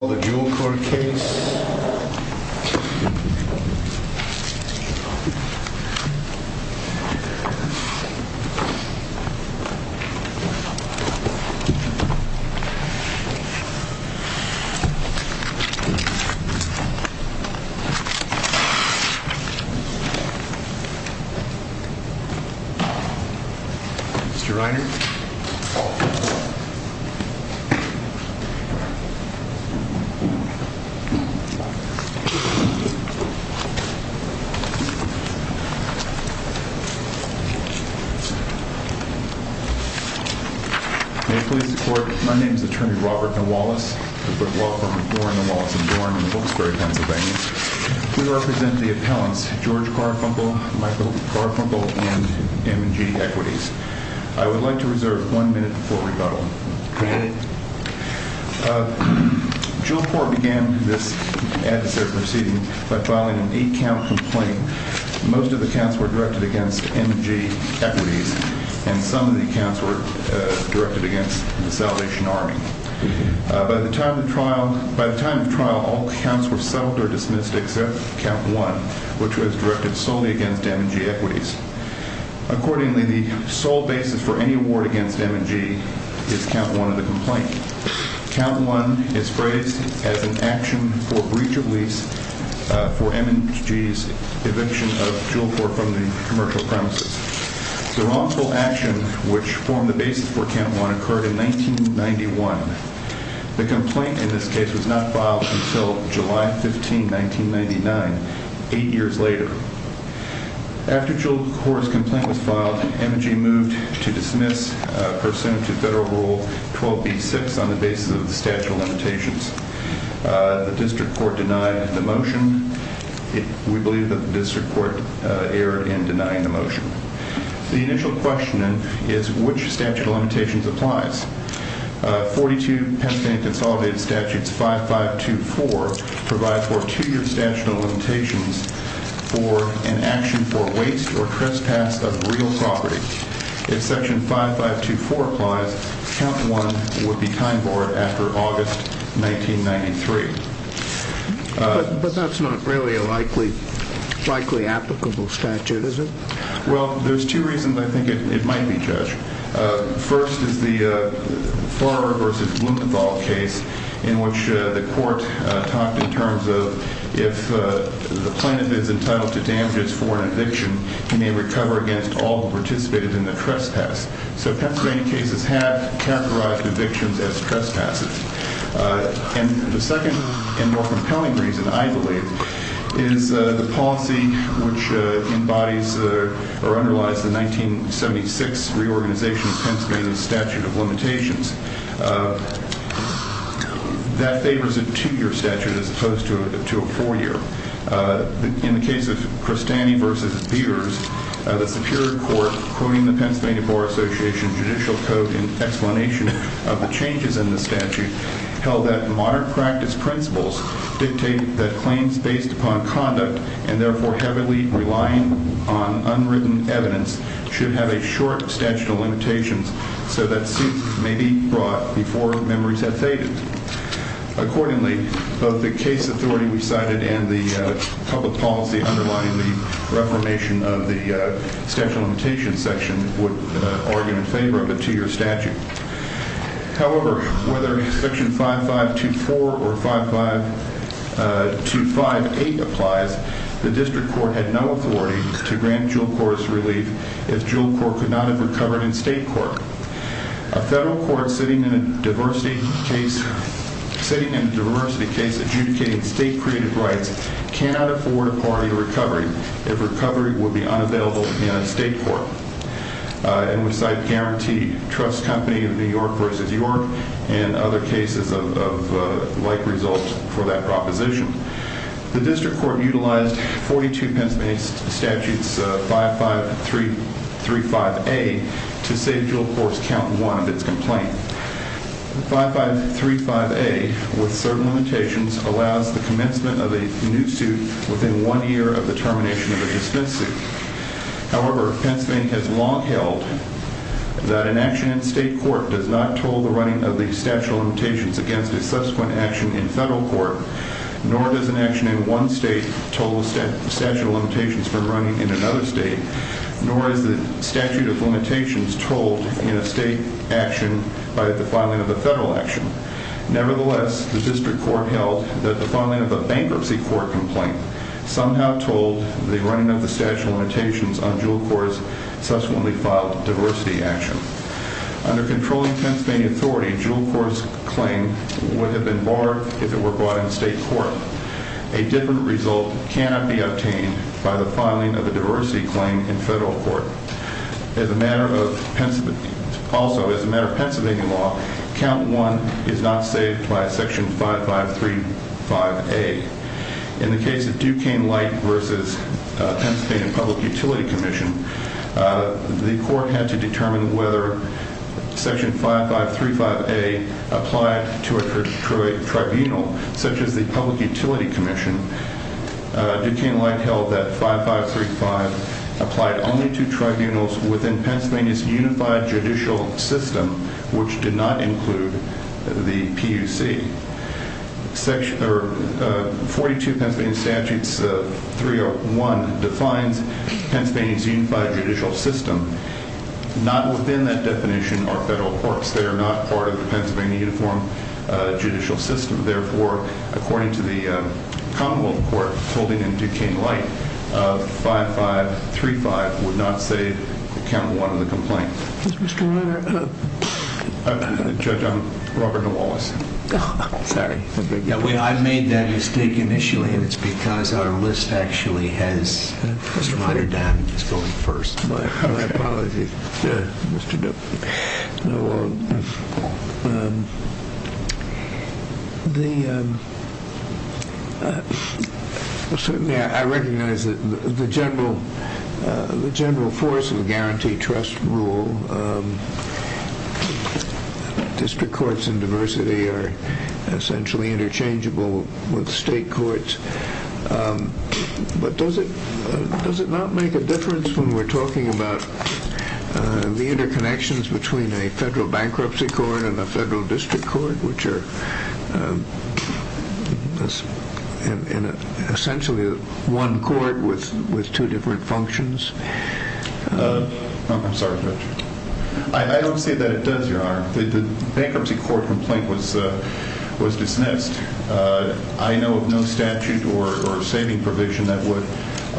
The Jewelcor case. May it please the Court, my name is Attorney Robert N. Wallace. I'm with the law firm of Dorn & Wallace & Dorn in Wilkes-Barre, Pennsylvania. We represent the appellants George Karfunkel, Michael Karfunkel, and M & G Equities. I would like to reserve one minute before rebuttal. Go ahead. Jewelcorp began this adverse proceeding by filing an eight-count complaint. Most of the counts were directed against M & G Equities, and some of the counts were directed against the Salvation Army. By the time of trial, all counts were settled or dismissed except count one, which was directed solely against M & G Equities. Accordingly, the sole basis for any award against M & G is count one of the complaint. Count one is phrased as an action for breach of lease for M & G's eviction of Jewelcor from the commercial premises. The wrongful action which formed the basis for count one occurred in 1991. The complaint in this case was not filed until July 15, 1999, eight years later. After Jewelcor's file, M & G moved to dismiss, pursuant to Federal Rule 12b-6 on the basis of the statute of limitations. The district court denied the motion. We believe that the district court erred in denying the motion. The initial question is, which statute of limitations applies? 42 Pennsylvania Consolidated Statutes 5524 provide for two-year statute of limitations for an action for waste or illegal property. If section 5524 applies, count one would be time borne after August 1993. But that's not really a likely applicable statute, is it? Well, there's two reasons I think it might be, Judge. First is the Farber v. Blumenthal case in which the court talked in terms of if the plaintiff is entitled to damages for an eviction, he may recover against all who participated in the trespass. So Pennsylvania cases have characterized evictions as trespasses. And the second and more compelling reason, I believe, is the policy which embodies or underlies the 1976 reorganization of Pennsylvania's statute of limitations. That favors a two-year statute of limitations. In the case of Pennsylvania v. Beers, the Superior Court, quoting the Pennsylvania Bar Association judicial code in explanation of the changes in the statutes, held that moderate practice principles dictate that claims based upon conduct and, therefore, heavily relying on unwritten evidence, should have a short statute of limitations so that suits may be brought before memories have faded. Accordingly, both the case authority we cited and the public policy underlying the reformation of the statute of limitations section would argue in favor of a two-year statute. However, whether Section 5524 or 55258 applies, the District Court had no authority to grant dual-courts relief if dual-court could not have recovered in state court. A federal court sitting in a diversity case adjudicating state-created rights cannot afford a party recovery if recovery would be unavailable in a state court. And we cite Guarantee Trust Company of New York v. York and other cases of like result for that proposition. The District Court utilized 42 Pennsylvania Statutes 5535A to save dual-courts count one of its complaint. 5535A, with certain limitations, allows the commencement of a new suit within one year of the termination of a dismissed suit. However, Pennsylvania has long held that an action in state court does not toll the running of the statute of limitations against a subsequent action in federal court, nor does an action in one state toll the statute of limitations from running in another state, nor is the statute of limitations tolled in a state action by the filing of a federal action. Nevertheless, the District Court held that the filing of a bankruptcy court complaint somehow tolled the running of the statute of limitations on dual-courts subsequently filed diversity action. Under controlling Pennsylvania authority, dual-courts claim would have been barred if it were brought in state court. A different result cannot be obtained by the filing of a diversity claim in federal court. As a matter of Pennsylvania law, count one is not saved by section 5535A. In the case of Duquesne Light v. Pennsylvania Public Utility Commission, the court had to consider whether section 5535A applied to a tribunal such as the Public Utility Commission. Duquesne Light held that 5535 applied only to tribunals within Pennsylvania's unified judicial system, which did not include the PUC. 42 Pennsylvania Statutes 301 defines Pennsylvania's unified judicial system. Not within that definition are federal courts. They are not part of the Pennsylvania uniform judicial system. Therefore, according to the Commonwealth Court holding in Duquesne Light, 5535 would not save count one of the complaint. Judge, I'm Robert DeWallace. Sorry. I made that mistake initially, and it's because our list actually has Mr. Ryder down and he's going first. My apologies, Mr. DeWallace. I recognize that the general force of the guarantee trust rule, district courts and diversity are essentially interchangeable with state courts, but does it not make a difference when we're talking about the interconnections between a federal bankruptcy court and a federal district court, which are essentially one court with two different functions? I'm sorry, Judge. I don't say that it does, Your Honor. The bankruptcy court complaint was dismissed. I know of no statute or saving provision that would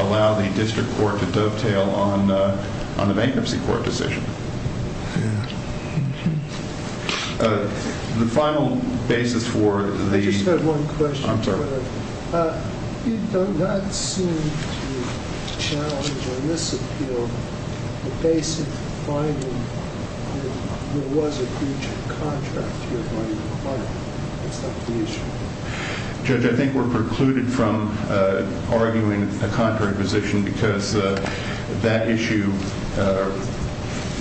allow the district court to dovetail on the bankruptcy court decision. The final basis for the- I'm sorry. It does not seem to challenge on this appeal the basic finding that there was a breach of contract here when you acquired it. That's not the issue. Judge, I think we're precluded from arguing a contrary position because that issue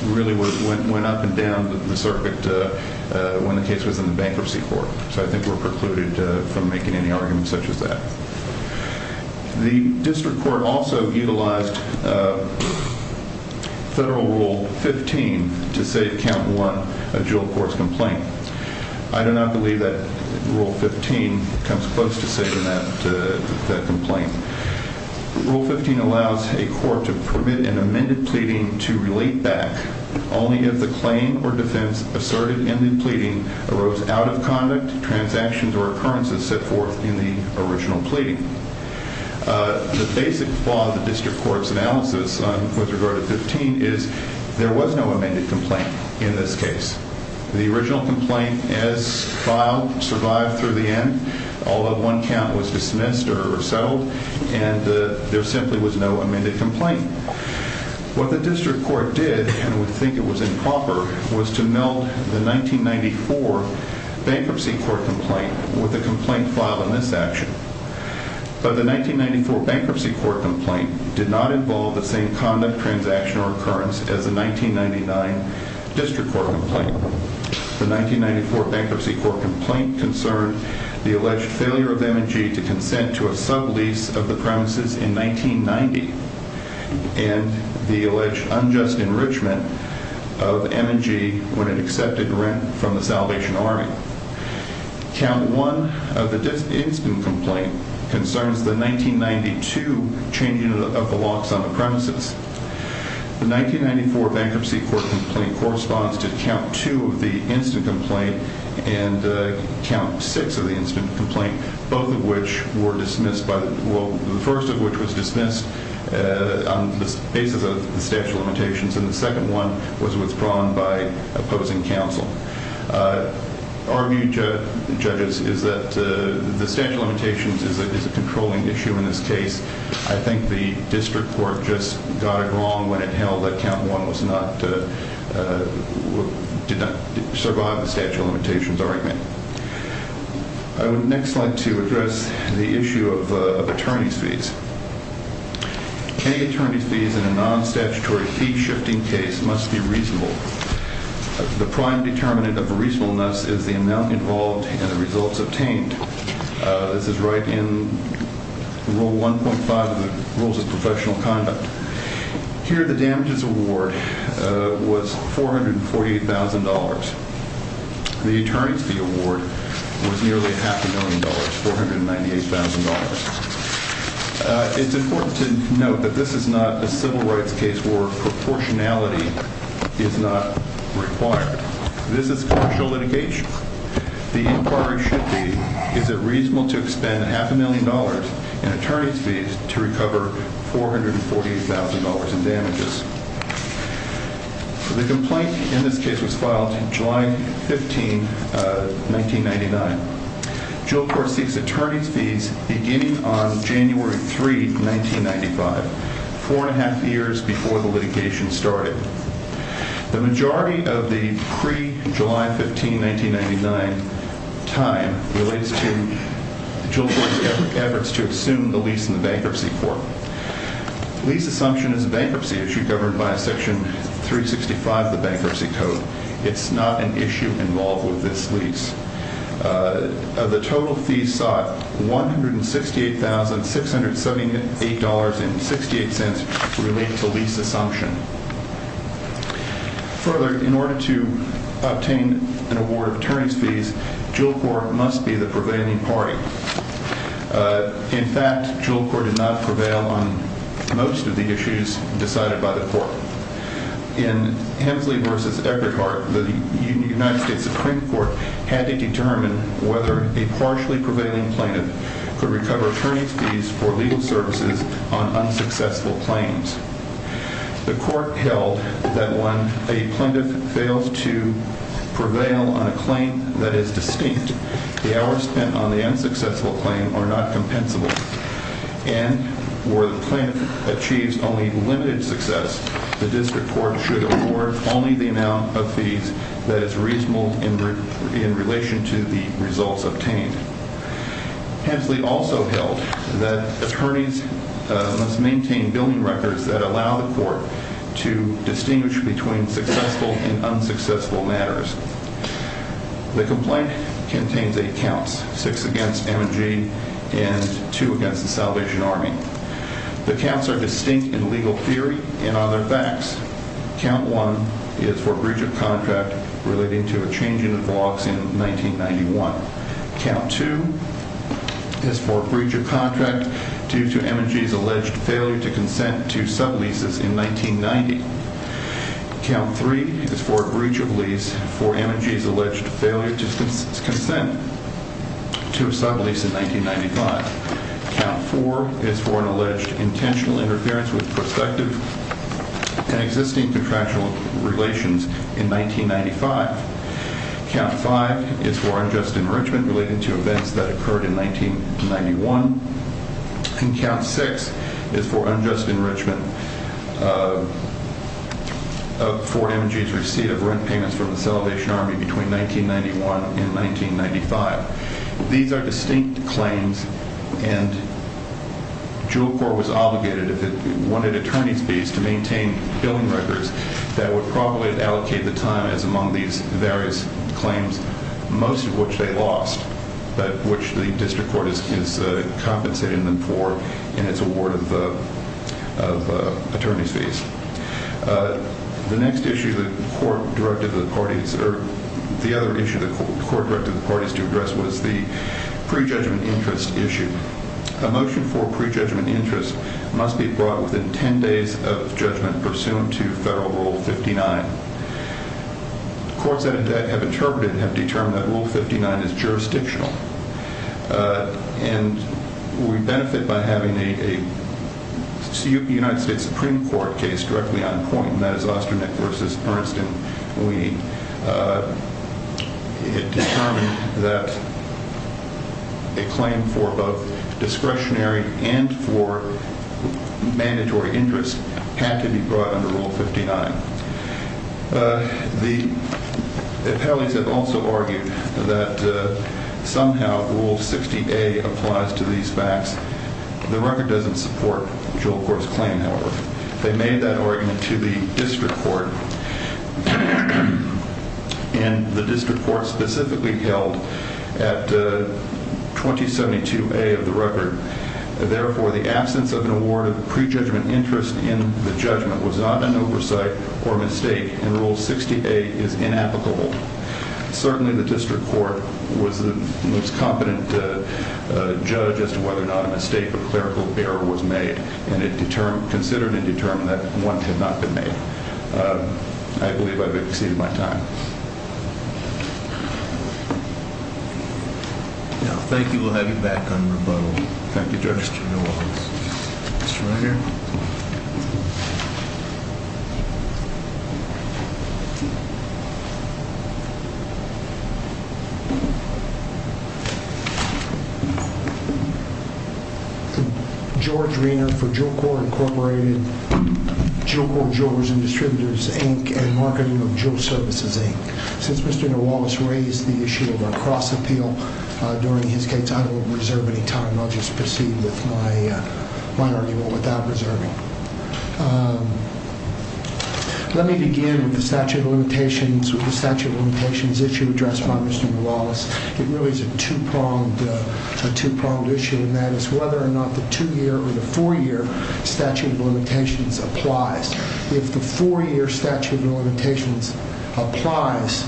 really went up and down the circuit when the case was in the bankruptcy court, so I think we're The district court also utilized federal rule 15 to save count one of Jewel Court's complaint. I do not believe that rule 15 comes close to saving that complaint. Rule 15 allows a court to permit an amended pleading to relate back only if the claim or defense asserted in the pleading arose out of conduct, transactions, or occurrences set forth in the original pleading. The basic flaw of the district court's analysis with regard to 15 is there was no amended complaint in this case. The original complaint is filed, survived through the end, although one count was dismissed or settled, and there simply was no amended complaint. What the district court did, and would think it was improper, was to meld the 1994 bankruptcy court complaint with the complaint filed in this action, but the 1994 bankruptcy court complaint did not involve the same conduct, transaction, or occurrence as the 1999 district court complaint. The 1994 bankruptcy court complaint concerned the alleged failure of M&G to consent to a sublease of the premises in 1990 and the alleged unjust enrichment of M&G when it accepted rent from the Salvation Army. Count 1 of the instant complaint concerns the 1992 changing of the locks on the premises. The 1994 bankruptcy court complaint corresponds to Count 2 of the instant complaint and Count 6 of the instant complaint, both of which were dismissed, the first of which was dismissed on the basis of the statute of limitations, and the second one was withdrawn by opposing counsel. Our view, judges, is that the statute of limitations is a controlling issue in this case. I think the district court just got it wrong when it held that Count 1 did not survive the statute of limitations argument. I would next like to address the issue of attorney's fees. Paying attorney's fees in a non-statutory fee-shifting case must be reasonable. The prime determinant of reasonableness is the amount involved and the results obtained. This is right in Rule 1.5 of the Rules of Professional Conduct. Here, the damages award was $440,000. The attorney's fee award was nearly half a million dollars, $498,000. It's important to note that this is not a civil rights case where proportionality is not required. This is commercial litigation. The inquiry should be, is it reasonable to expend half a million dollars in attorney's fees to recover $440,000 in damages? The complaint in this case was filed July 15, 1999. Juul Court seeks attorney's fees beginning on January 3, 1995, four and a half years before the litigation started. The majority of the pre-July 15, 1999 time relates to Juul Court's efforts to assume the lease in the bankruptcy court. Lease assumption is a bankruptcy issue governed by Section 365 of the Bankruptcy Code. It's not an issue involved with this lease. The total fees sought, $168,678.68, relate to lease assumption. Further, in order to obtain an award of attorney's fees, Juul Court must be the prevailing party. In fact, Juul Court did not prevail on most of the issues decided by the court. In Hensley v. Egerhardt, the United States Supreme Court had to determine whether a partially prevailing plaintiff could recover attorney's fees for legal services on unsuccessful claims. The court held that when a plaintiff fails to prevail on a claim that is distinct, the hours spent on the unsuccessful claim are not compensable, and where the plaintiff achieves only limited success, the district court should award only the amount of fees that is reasonable in relation to the results obtained. Hensley also held that attorneys must maintain billing records that allow the court to distinguish between successful and unsuccessful matters. The complaint contains eight counts, six against M&G and two against the Salvation Army. The counts are distinct in legal theory and other facts. Count 1 is for breach of contract relating to a change in the vlogs in 1991. Count 2 is for breach of contract due to M&G's alleged failure to consent to sub-leases in 1990. Count 3 is for a breach of lease for M&G's alleged failure to consent to a sub-lease in 1995. Count 4 is for an alleged intentional interference with prospective and existing contractual relations in 1995. Count 5 is for unjust enrichment relating to events that occurred in 1991. And Count 6 is for unjust enrichment for M&G's receipt of rent payments from the Salvation Army between 1991 and 1995. These are distinct claims, and Juul Court was obligated, if it wanted attorneys fees, to maintain billing records that would probably allocate the time as among these various claims, most of which they lost, but which the district court is compensating them for in its award of attorney fees. The next issue the court directed the parties to address was the prejudgment interest issue. A motion for prejudgment interest must be brought within 10 days of judgment pursuant to Federal Rule 59. Courts that have interpreted have determined that Rule 59 is jurisdictional, and we benefit by having a United States Supreme Court case directly on point, and that is Osternick v. Bernstein. We determined that a claim for both discretionary and for mandatory interest had to be brought under Rule 59. The appellees have also argued that somehow Rule 60A applies to these facts. The record doesn't support Juul Court's claim, however. They made that argument to the district court, and the district court specifically held at 2072A of the record. Therefore, the absence of an award of prejudgment interest in the judgment was not an oversight or mistake, and Rule 68 is inapplicable. Certainly, the district court was the most competent judge as to whether or not a mistake or clerical error was made, and it considered and determined that one had not been made. I believe I have exceeded my time. Thank you. We'll have you back on rebuttal. Thank you, Judge. Thank you, Judge. Since Mr. Newallis raised the issue of a cross-appeal during his case, I don't reserve any time. I'll just proceed with my argument without reserving. Let me begin with the statute of limitations issue addressed by Mr. Newallis. It really is a two-pronged issue, and that is whether or not the two-year or the four-year statute of limitations applies. If the four-year statute of limitations applies,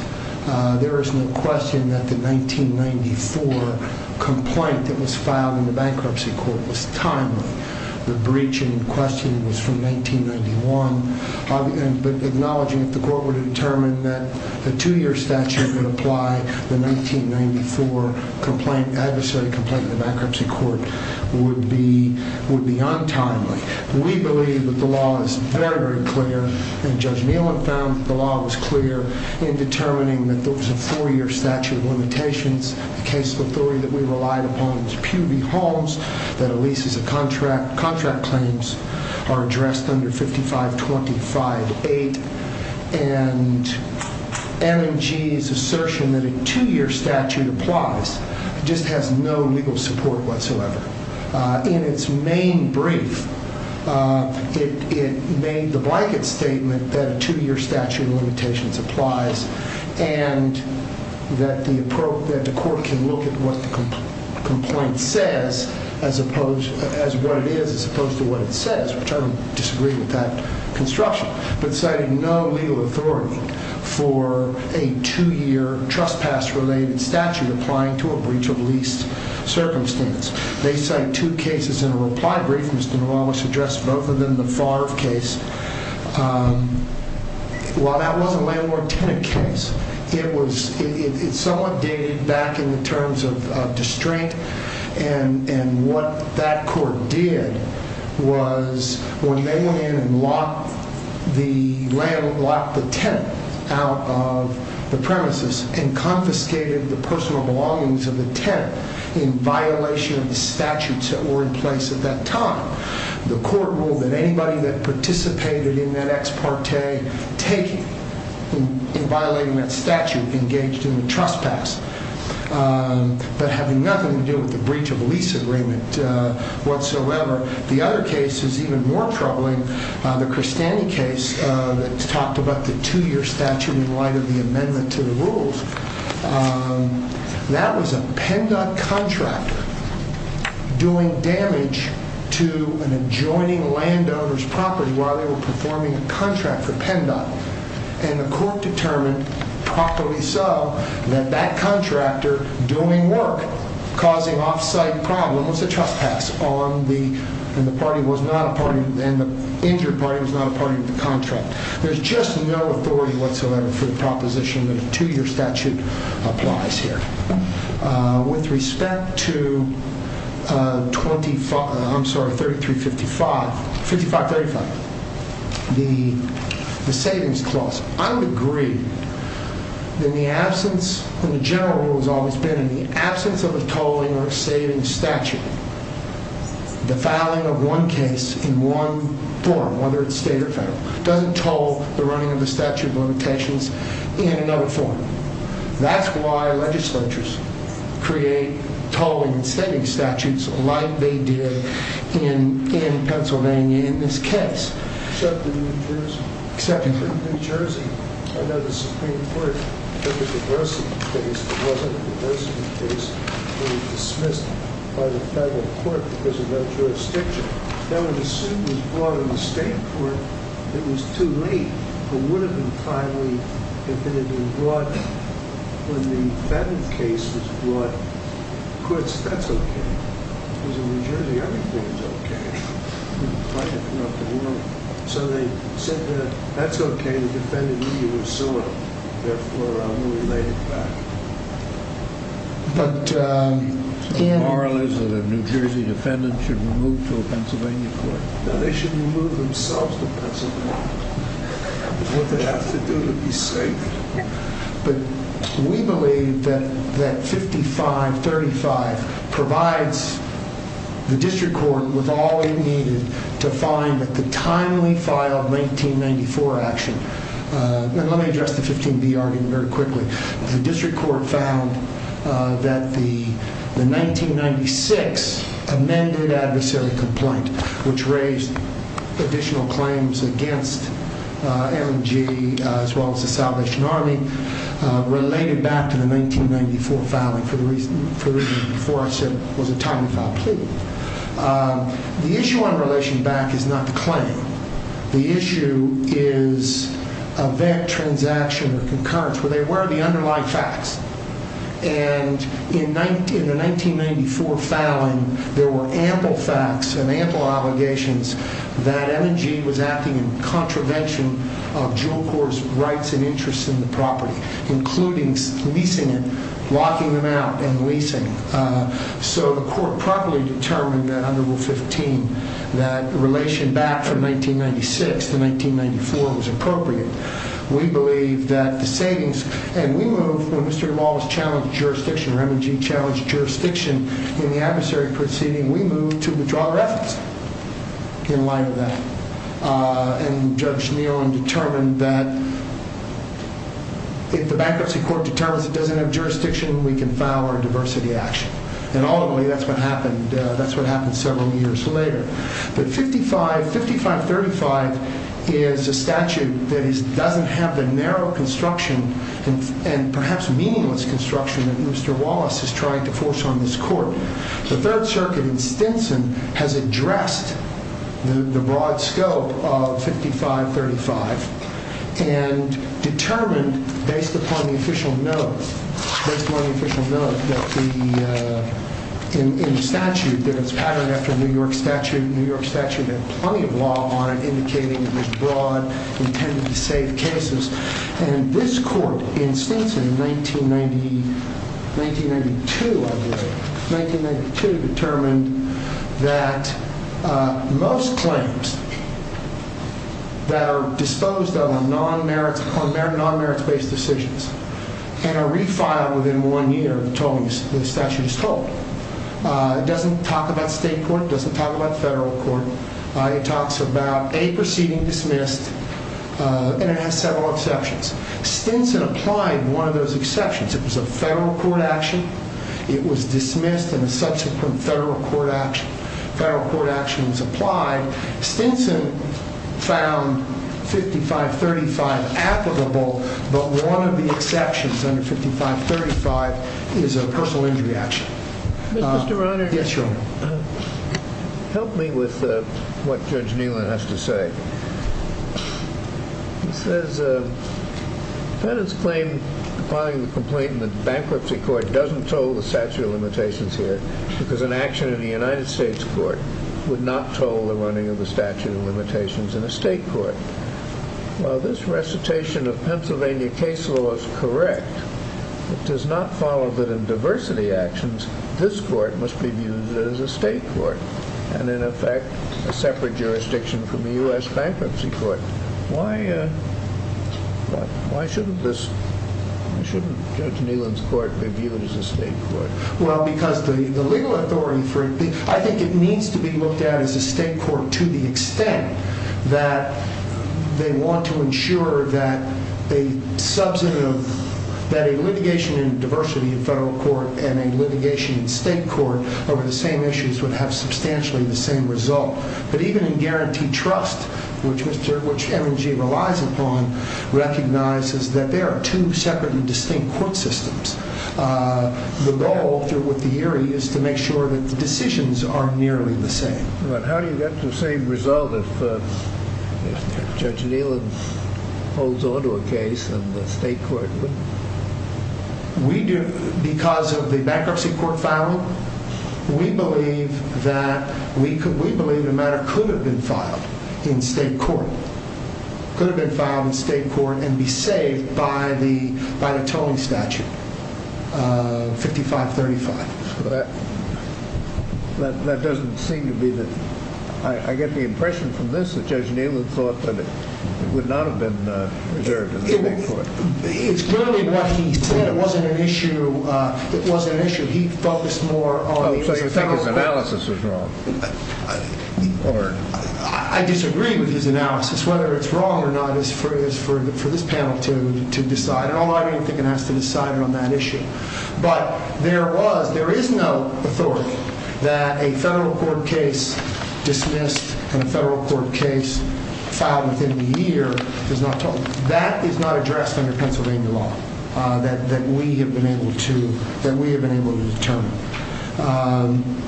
there is no question that the 1994 complaint that was filed in the bankruptcy court was timely. The breach in question was from 1991, but acknowledging that the court would determine that a two-year statute would apply, the 1994 adversary complaint in the bankruptcy court would be untimely. We believe that the law is very, very clear, and Judge Newallis found that the law was clear in determining that there was a four-year statute of limitations. The case of authority that we relied upon was Pew v. Holmes, that a lease is a contract, contract claims are addressed under 5525-8, and MMG's assertion that a two-year statute applies just has no legal support whatsoever. In its main brief, it made the blanket statement that a two-year statute of limitations applies and that the court can look at what the complaint says as opposed to what it says, which I would disagree with that construction, but cited no legal authority for a two-year trespass-related statute applying to a breach of lease circumstance. They cite two cases in a reply brief, Mr. Newallis addressed both of them, the Farr case. While that was a landlord-tenant case, it was somewhat dated back in the terms of distraint, and what that court did was when they went in and locked the tenant out of the premises and confiscated the personal belongings of the tenant in violation of the statutes that were in place at that time, the court ruled that anybody that participated in that ex parte taking, in violating that statute, engaged in a trespass, but having nothing to do with the breach of lease agreement whatsoever. The other case is even more troubling, the Crestani case, that talked about the two-year statute in light of the amendment to the rules. That was a PennDOT contractor doing damage to an adjoining landowner's property while they were performing a contract for PennDOT, and the court determined properly so that that contractor doing work, causing off-site problems, a trespass, and the injured party was not a party to the contract. There's just no authority whatsoever for the proposition that a two-year statute applies here. With respect to 5355, the savings clause, I would agree that in the absence of a tolling or a savings statute, the filing of one case in one form, whether it's state or federal, doesn't toll the running of the statute of limitations in another form. That's why legislatures create tolling and savings statutes like they did in Pennsylvania in this case. Except in New Jersey. Except in New Jersey. Except in New Jersey. I know the Supreme Court took a diversity case. It wasn't a diversity case. It was dismissed by the federal court because of that jurisdiction. Now, when the suit was brought in the state court, it was too late. It would have been finally if it had been brought when the Fenton case was brought. The court said, that's okay. Because in New Jersey, everything is okay. So they said, that's okay. The defendant knew you were suing. Therefore, I'm going to lay it back. The moral is that a New Jersey defendant should be moved to a Pennsylvania court. No, they should move themselves to Pennsylvania. That's what they have to do to be safe. We believe that 5535 provides the district court with all it needed to find the timely file of 1994 action. Let me address the 15B argument very quickly. The district court found that the 1996 amended adversary complaint, which raised additional claims against M&G as well as the Salvation Army, related back to the 1994 filing for the reason that before I said it was a timely file plea. The issue in relation back is not the claim. The issue is event, transaction, or concurrence. They were the underlying facts. In the 1994 filing, there were ample facts and ample allegations that M&G was acting in contravention of Juul Corps' rights and interests in the property, including leasing it, locking them out, and leasing. So the court properly determined that under Rule 15, that relation back from 1996 to 1994 was appropriate. We believe that the savings, and we moved, when Mr. Duvall was challenged jurisdiction, or M&G challenged jurisdiction in the adversary proceeding, we moved to withdraw reference in light of that. And Judge Nealon determined that if the bankruptcy court determines it doesn't have jurisdiction, we can file our diversity action. And ultimately, that's what happened. That's what happened several years later. But 5535 is a statute that doesn't have the narrow construction and perhaps meaningless construction that Mr. Wallace is trying to force on this court. The Third Circuit in Stinson has addressed the broad scope of 5535 and determined, based upon the official note, that the statute, that it's patterned after the New York statute, the New York statute had plenty of law on it indicating it was broad, intended to save cases. And this court in Stinson in 1992, I believe, in 1992 determined that most claims that are disposed of are non-merits-based decisions and are refiled within one year, the statute is told. It doesn't talk about state court, it doesn't talk about federal court, it talks about a proceeding dismissed, and it has several exceptions. Stinson applied one of those exceptions. It was a federal court action, it was dismissed, and a subsequent federal court action was applied. Stinson found 5535 applicable, but one of the exceptions under 5535 is a personal injury action. Mr. Rohnert? Yes, Your Honor. Help me with what Judge Neelan has to say. He says, defendants claim, compiling the complaint in the bankruptcy court, doesn't toll the statute of limitations here because an action in the United States court would not toll the running of the statute of limitations in a state court. While this recitation of Pennsylvania case law is correct, it does not follow that in diversity actions, this court must be viewed as a state court and, in effect, a separate jurisdiction from the U.S. bankruptcy court. Why shouldn't Judge Neelan's court be viewed as a state court? Well, because the legal authority for it, I think it needs to be looked at as a state court to the extent that they want to ensure that a litigation in diversity in federal court and a litigation in state court over the same issues would have substantially the same result. But even in guarantee trust, which M&G relies upon, recognizes that there are two separate and distinct court systems. The goal, through what the hearing is, is to make sure that the decisions are nearly the same. But how do you get the same result if Judge Neelan holds on to a case and the state court wouldn't? Because of the bankruptcy court filing, we believe that the matter could have been filed in state court and be saved by the tolling statute, 5535. That doesn't seem to be the... I get the impression from this that Judge Neelan thought that it would not have been reserved in the state court. It's clearly what he said. It wasn't an issue he focused more on. So you think his analysis was wrong? I disagree with his analysis. Whether it's wrong or not is for this panel to decide. I don't think it has to decide on that issue. But there is no authority that a federal court case dismissed and a federal court case filed within the year is not tolled. That is not addressed under Pennsylvania law that we have been able to determine.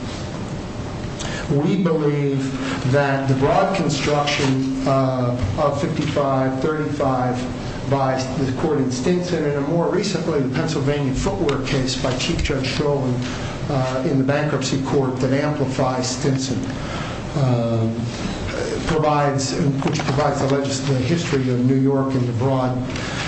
We believe that the broad construction of 5535 by the court in Stinson and, more recently, the Pennsylvania footwear case by Chief Judge Chauvin in the bankruptcy court that amplifies Stinson, which provides the legislative history of New York and the broad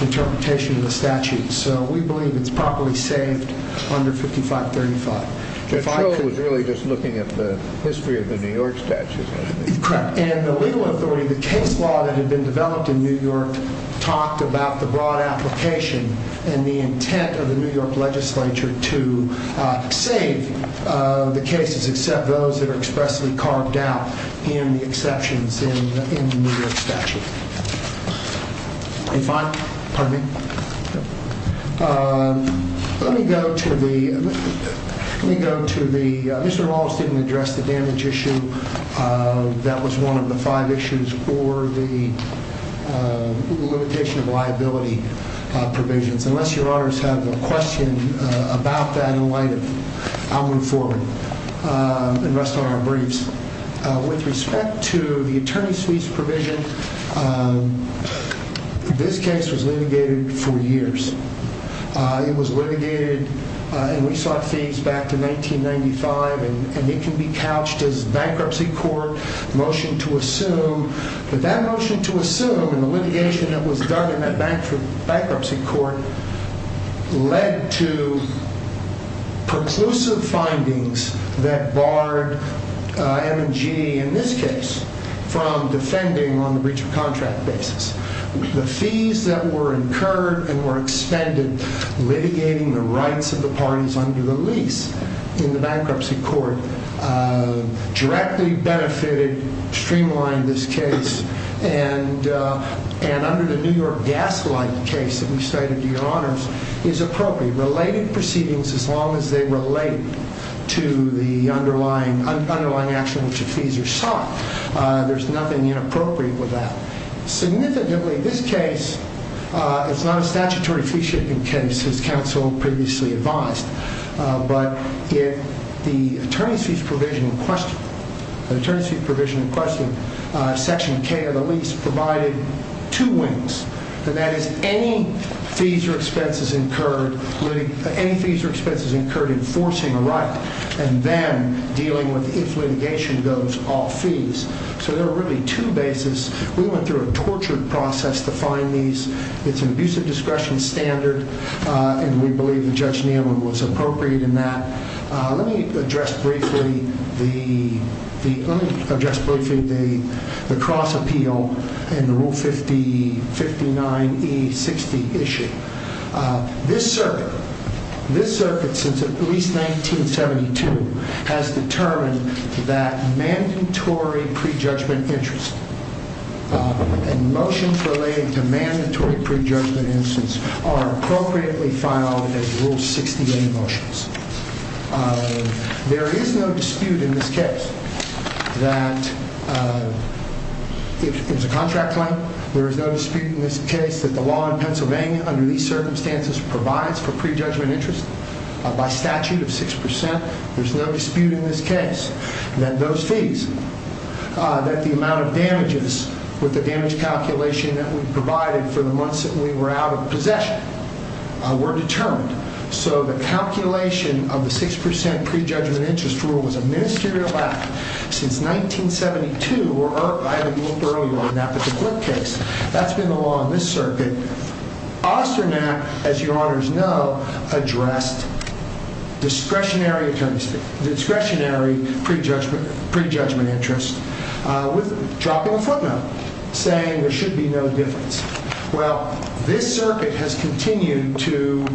interpretation of the statute. So we believe it's properly saved under 5535. Judge Chauvin was really just looking at the history of the New York statute, wasn't he? Correct. And the legal authority of the case law that had been developed in New York talked about the broad application and the intent of the New York legislature to save the cases, except those that are expressly carved out in the exceptions in the New York statute. Are you fine? Pardon me. Let me go to the... Let me go to the... Mr. Wallace didn't address the damage issue. That was one of the five issues for the limitation of liability provisions. Unless your honors have a question about that in light of... I'll move forward and rest on our briefs. With respect to the attorney's fees provision, this case was litigated for years. It was litigated, and we sought fees back in 1995, and it can be couched as bankruptcy court motion to assume, but that motion to assume and the litigation that was done in that bankruptcy court led to preclusive findings that barred M&G, in this case, from defending on the breach of contract basis. The fees that were incurred and were expended litigating the rights of the parties under the lease in the bankruptcy court directly benefited, streamlined this case, and under the New York Gaslight case that we cited to your honors, is appropriate. Related proceedings, as long as they relate to the underlying action which the fees are sought, there's nothing inappropriate with that. Significantly, this case, it's not a statutory fee-shipping case, as counsel previously advised, but if the attorney's fees provision in question, the attorney's fees provision in question, section K of the lease, provided two wings, and that is any fees or expenses incurred enforcing a right and then dealing with, if litigation goes, all fees. So there are really two bases. We went through a tortured process to find these. It's an abusive discretion standard, and we believe that Judge Neyland was appropriate in that. Let me address briefly the cross-appeal in the Rule 59E60 issue. This circuit, this circuit since at least 1972, has determined that mandatory prejudgment interest and motions relating to mandatory prejudgment instance are appropriately filed as Rule 68 motions. There is no dispute in this case that, if it's a contract claim, there is no dispute in this case that the law in Pennsylvania under these circumstances provides for prejudgment interest by statute of 6%. There's no dispute in this case that those fees, that the amount of damages with the damage calculation that we provided for the months that we were out of possession, were determined. So the calculation of the 6% prejudgment interest rule was a ministerial act since 1972, or I haven't looked earlier on that, but the Glick case. That's been the law in this circuit. Osternap, as your honors know, addressed discretionary prejudgment interest with dropping a footnote, saying there should be no difference. Well, this circuit has continued to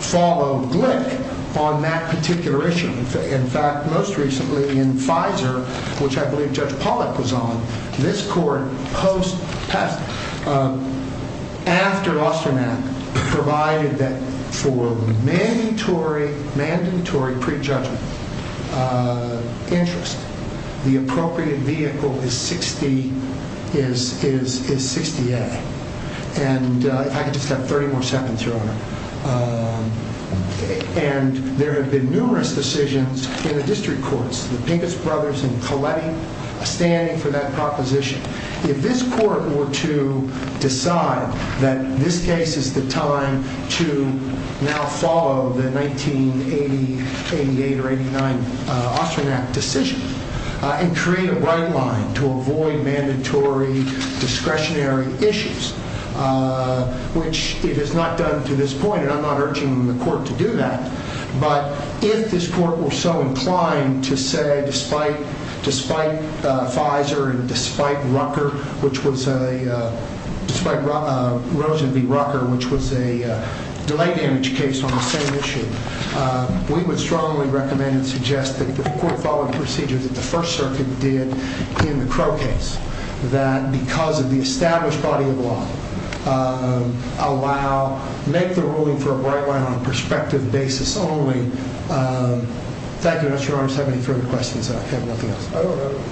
follow Glick on that particular issue. In fact, most recently in FISA, which I believe Judge Pollack was on, this court, after Osternap, provided that for mandatory prejudgment interest, the appropriate vehicle is 60A. And if I could just have 30 more seconds, your honor. And there have been numerous decisions in the district courts. The Pincus Brothers and Coletti are standing for that proposition. If this court were to decide that this case is the time to now follow the 1980, 88, or 89 Osternap decision and create a right line to avoid mandatory discretionary issues, which it has not done to this point, and I'm not urging the court to do that, but if this court were so inclined to say despite FISA and despite Rucker, which was a, despite Rosen v. Rucker, which was a delay damage case on the same issue, we would strongly recommend and suggest that the court follow the procedure that the First Circuit did in the Crow case, that because of the established body of law, allow, make the ruling for a right line on a perspective basis only. Thank you, your honor. If you have any further questions, I have nothing else. I don't have any.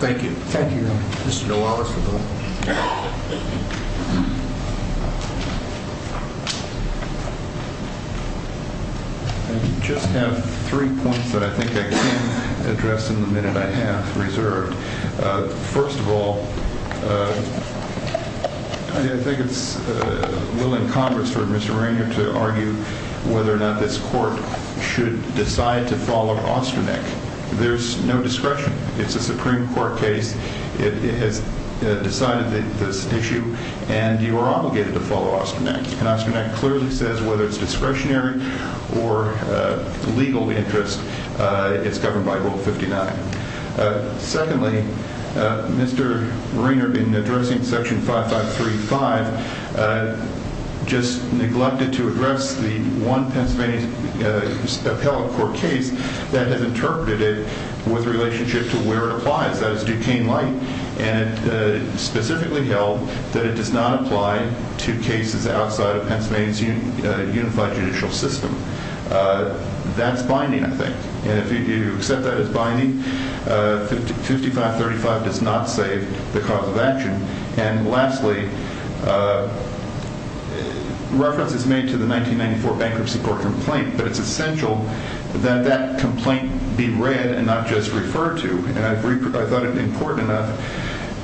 Thank you. Thank you, your honor. Mr. Gualos with the. I just have three points that I think I can address in the minute I have reserved. First of all, I think it's well in Congress for Mr. Rainer to argue whether or not this court should decide to follow Ostronek. There's no discretion. It's a Supreme Court case. It has decided this issue, and you are obligated to follow Ostronek, and Ostronek clearly says whether it's discretionary or legal interest, it's governed by Rule 59. Secondly, Mr. Rainer, in addressing Section 5535, just neglected to address the one Pennsylvania appellate court case that has interpreted it with relationship to where it applies, that is Duquesne Light, and specifically held that it does not apply to cases outside of Pennsylvania's unified judicial system. That's binding, I think, 5535 does not save the cause of action. And lastly, reference is made to the 1994 bankruptcy court complaint, but it's essential that that complaint be read and not just referred to, and I thought it important enough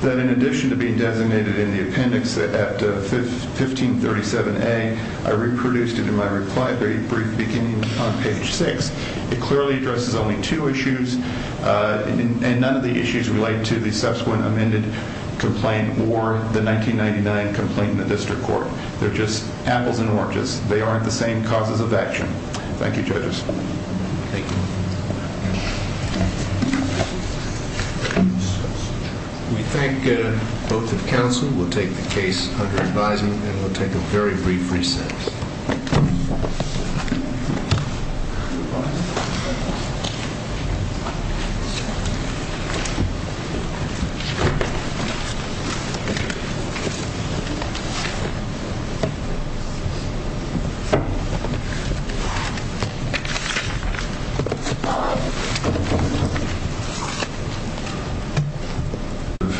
that in addition to being designated in the appendix at 1537A, I reproduced it in my reply brief beginning on page 6. It clearly addresses only two issues, and none of the issues relate to the subsequent amended complaint or the 1999 complaint in the district court. They're just apples and oranges. They aren't the same causes of action. Thank you, judges. Thank you. We thank both the counsel. We'll take the case under advisement, and we'll take a very brief recess. Thank you.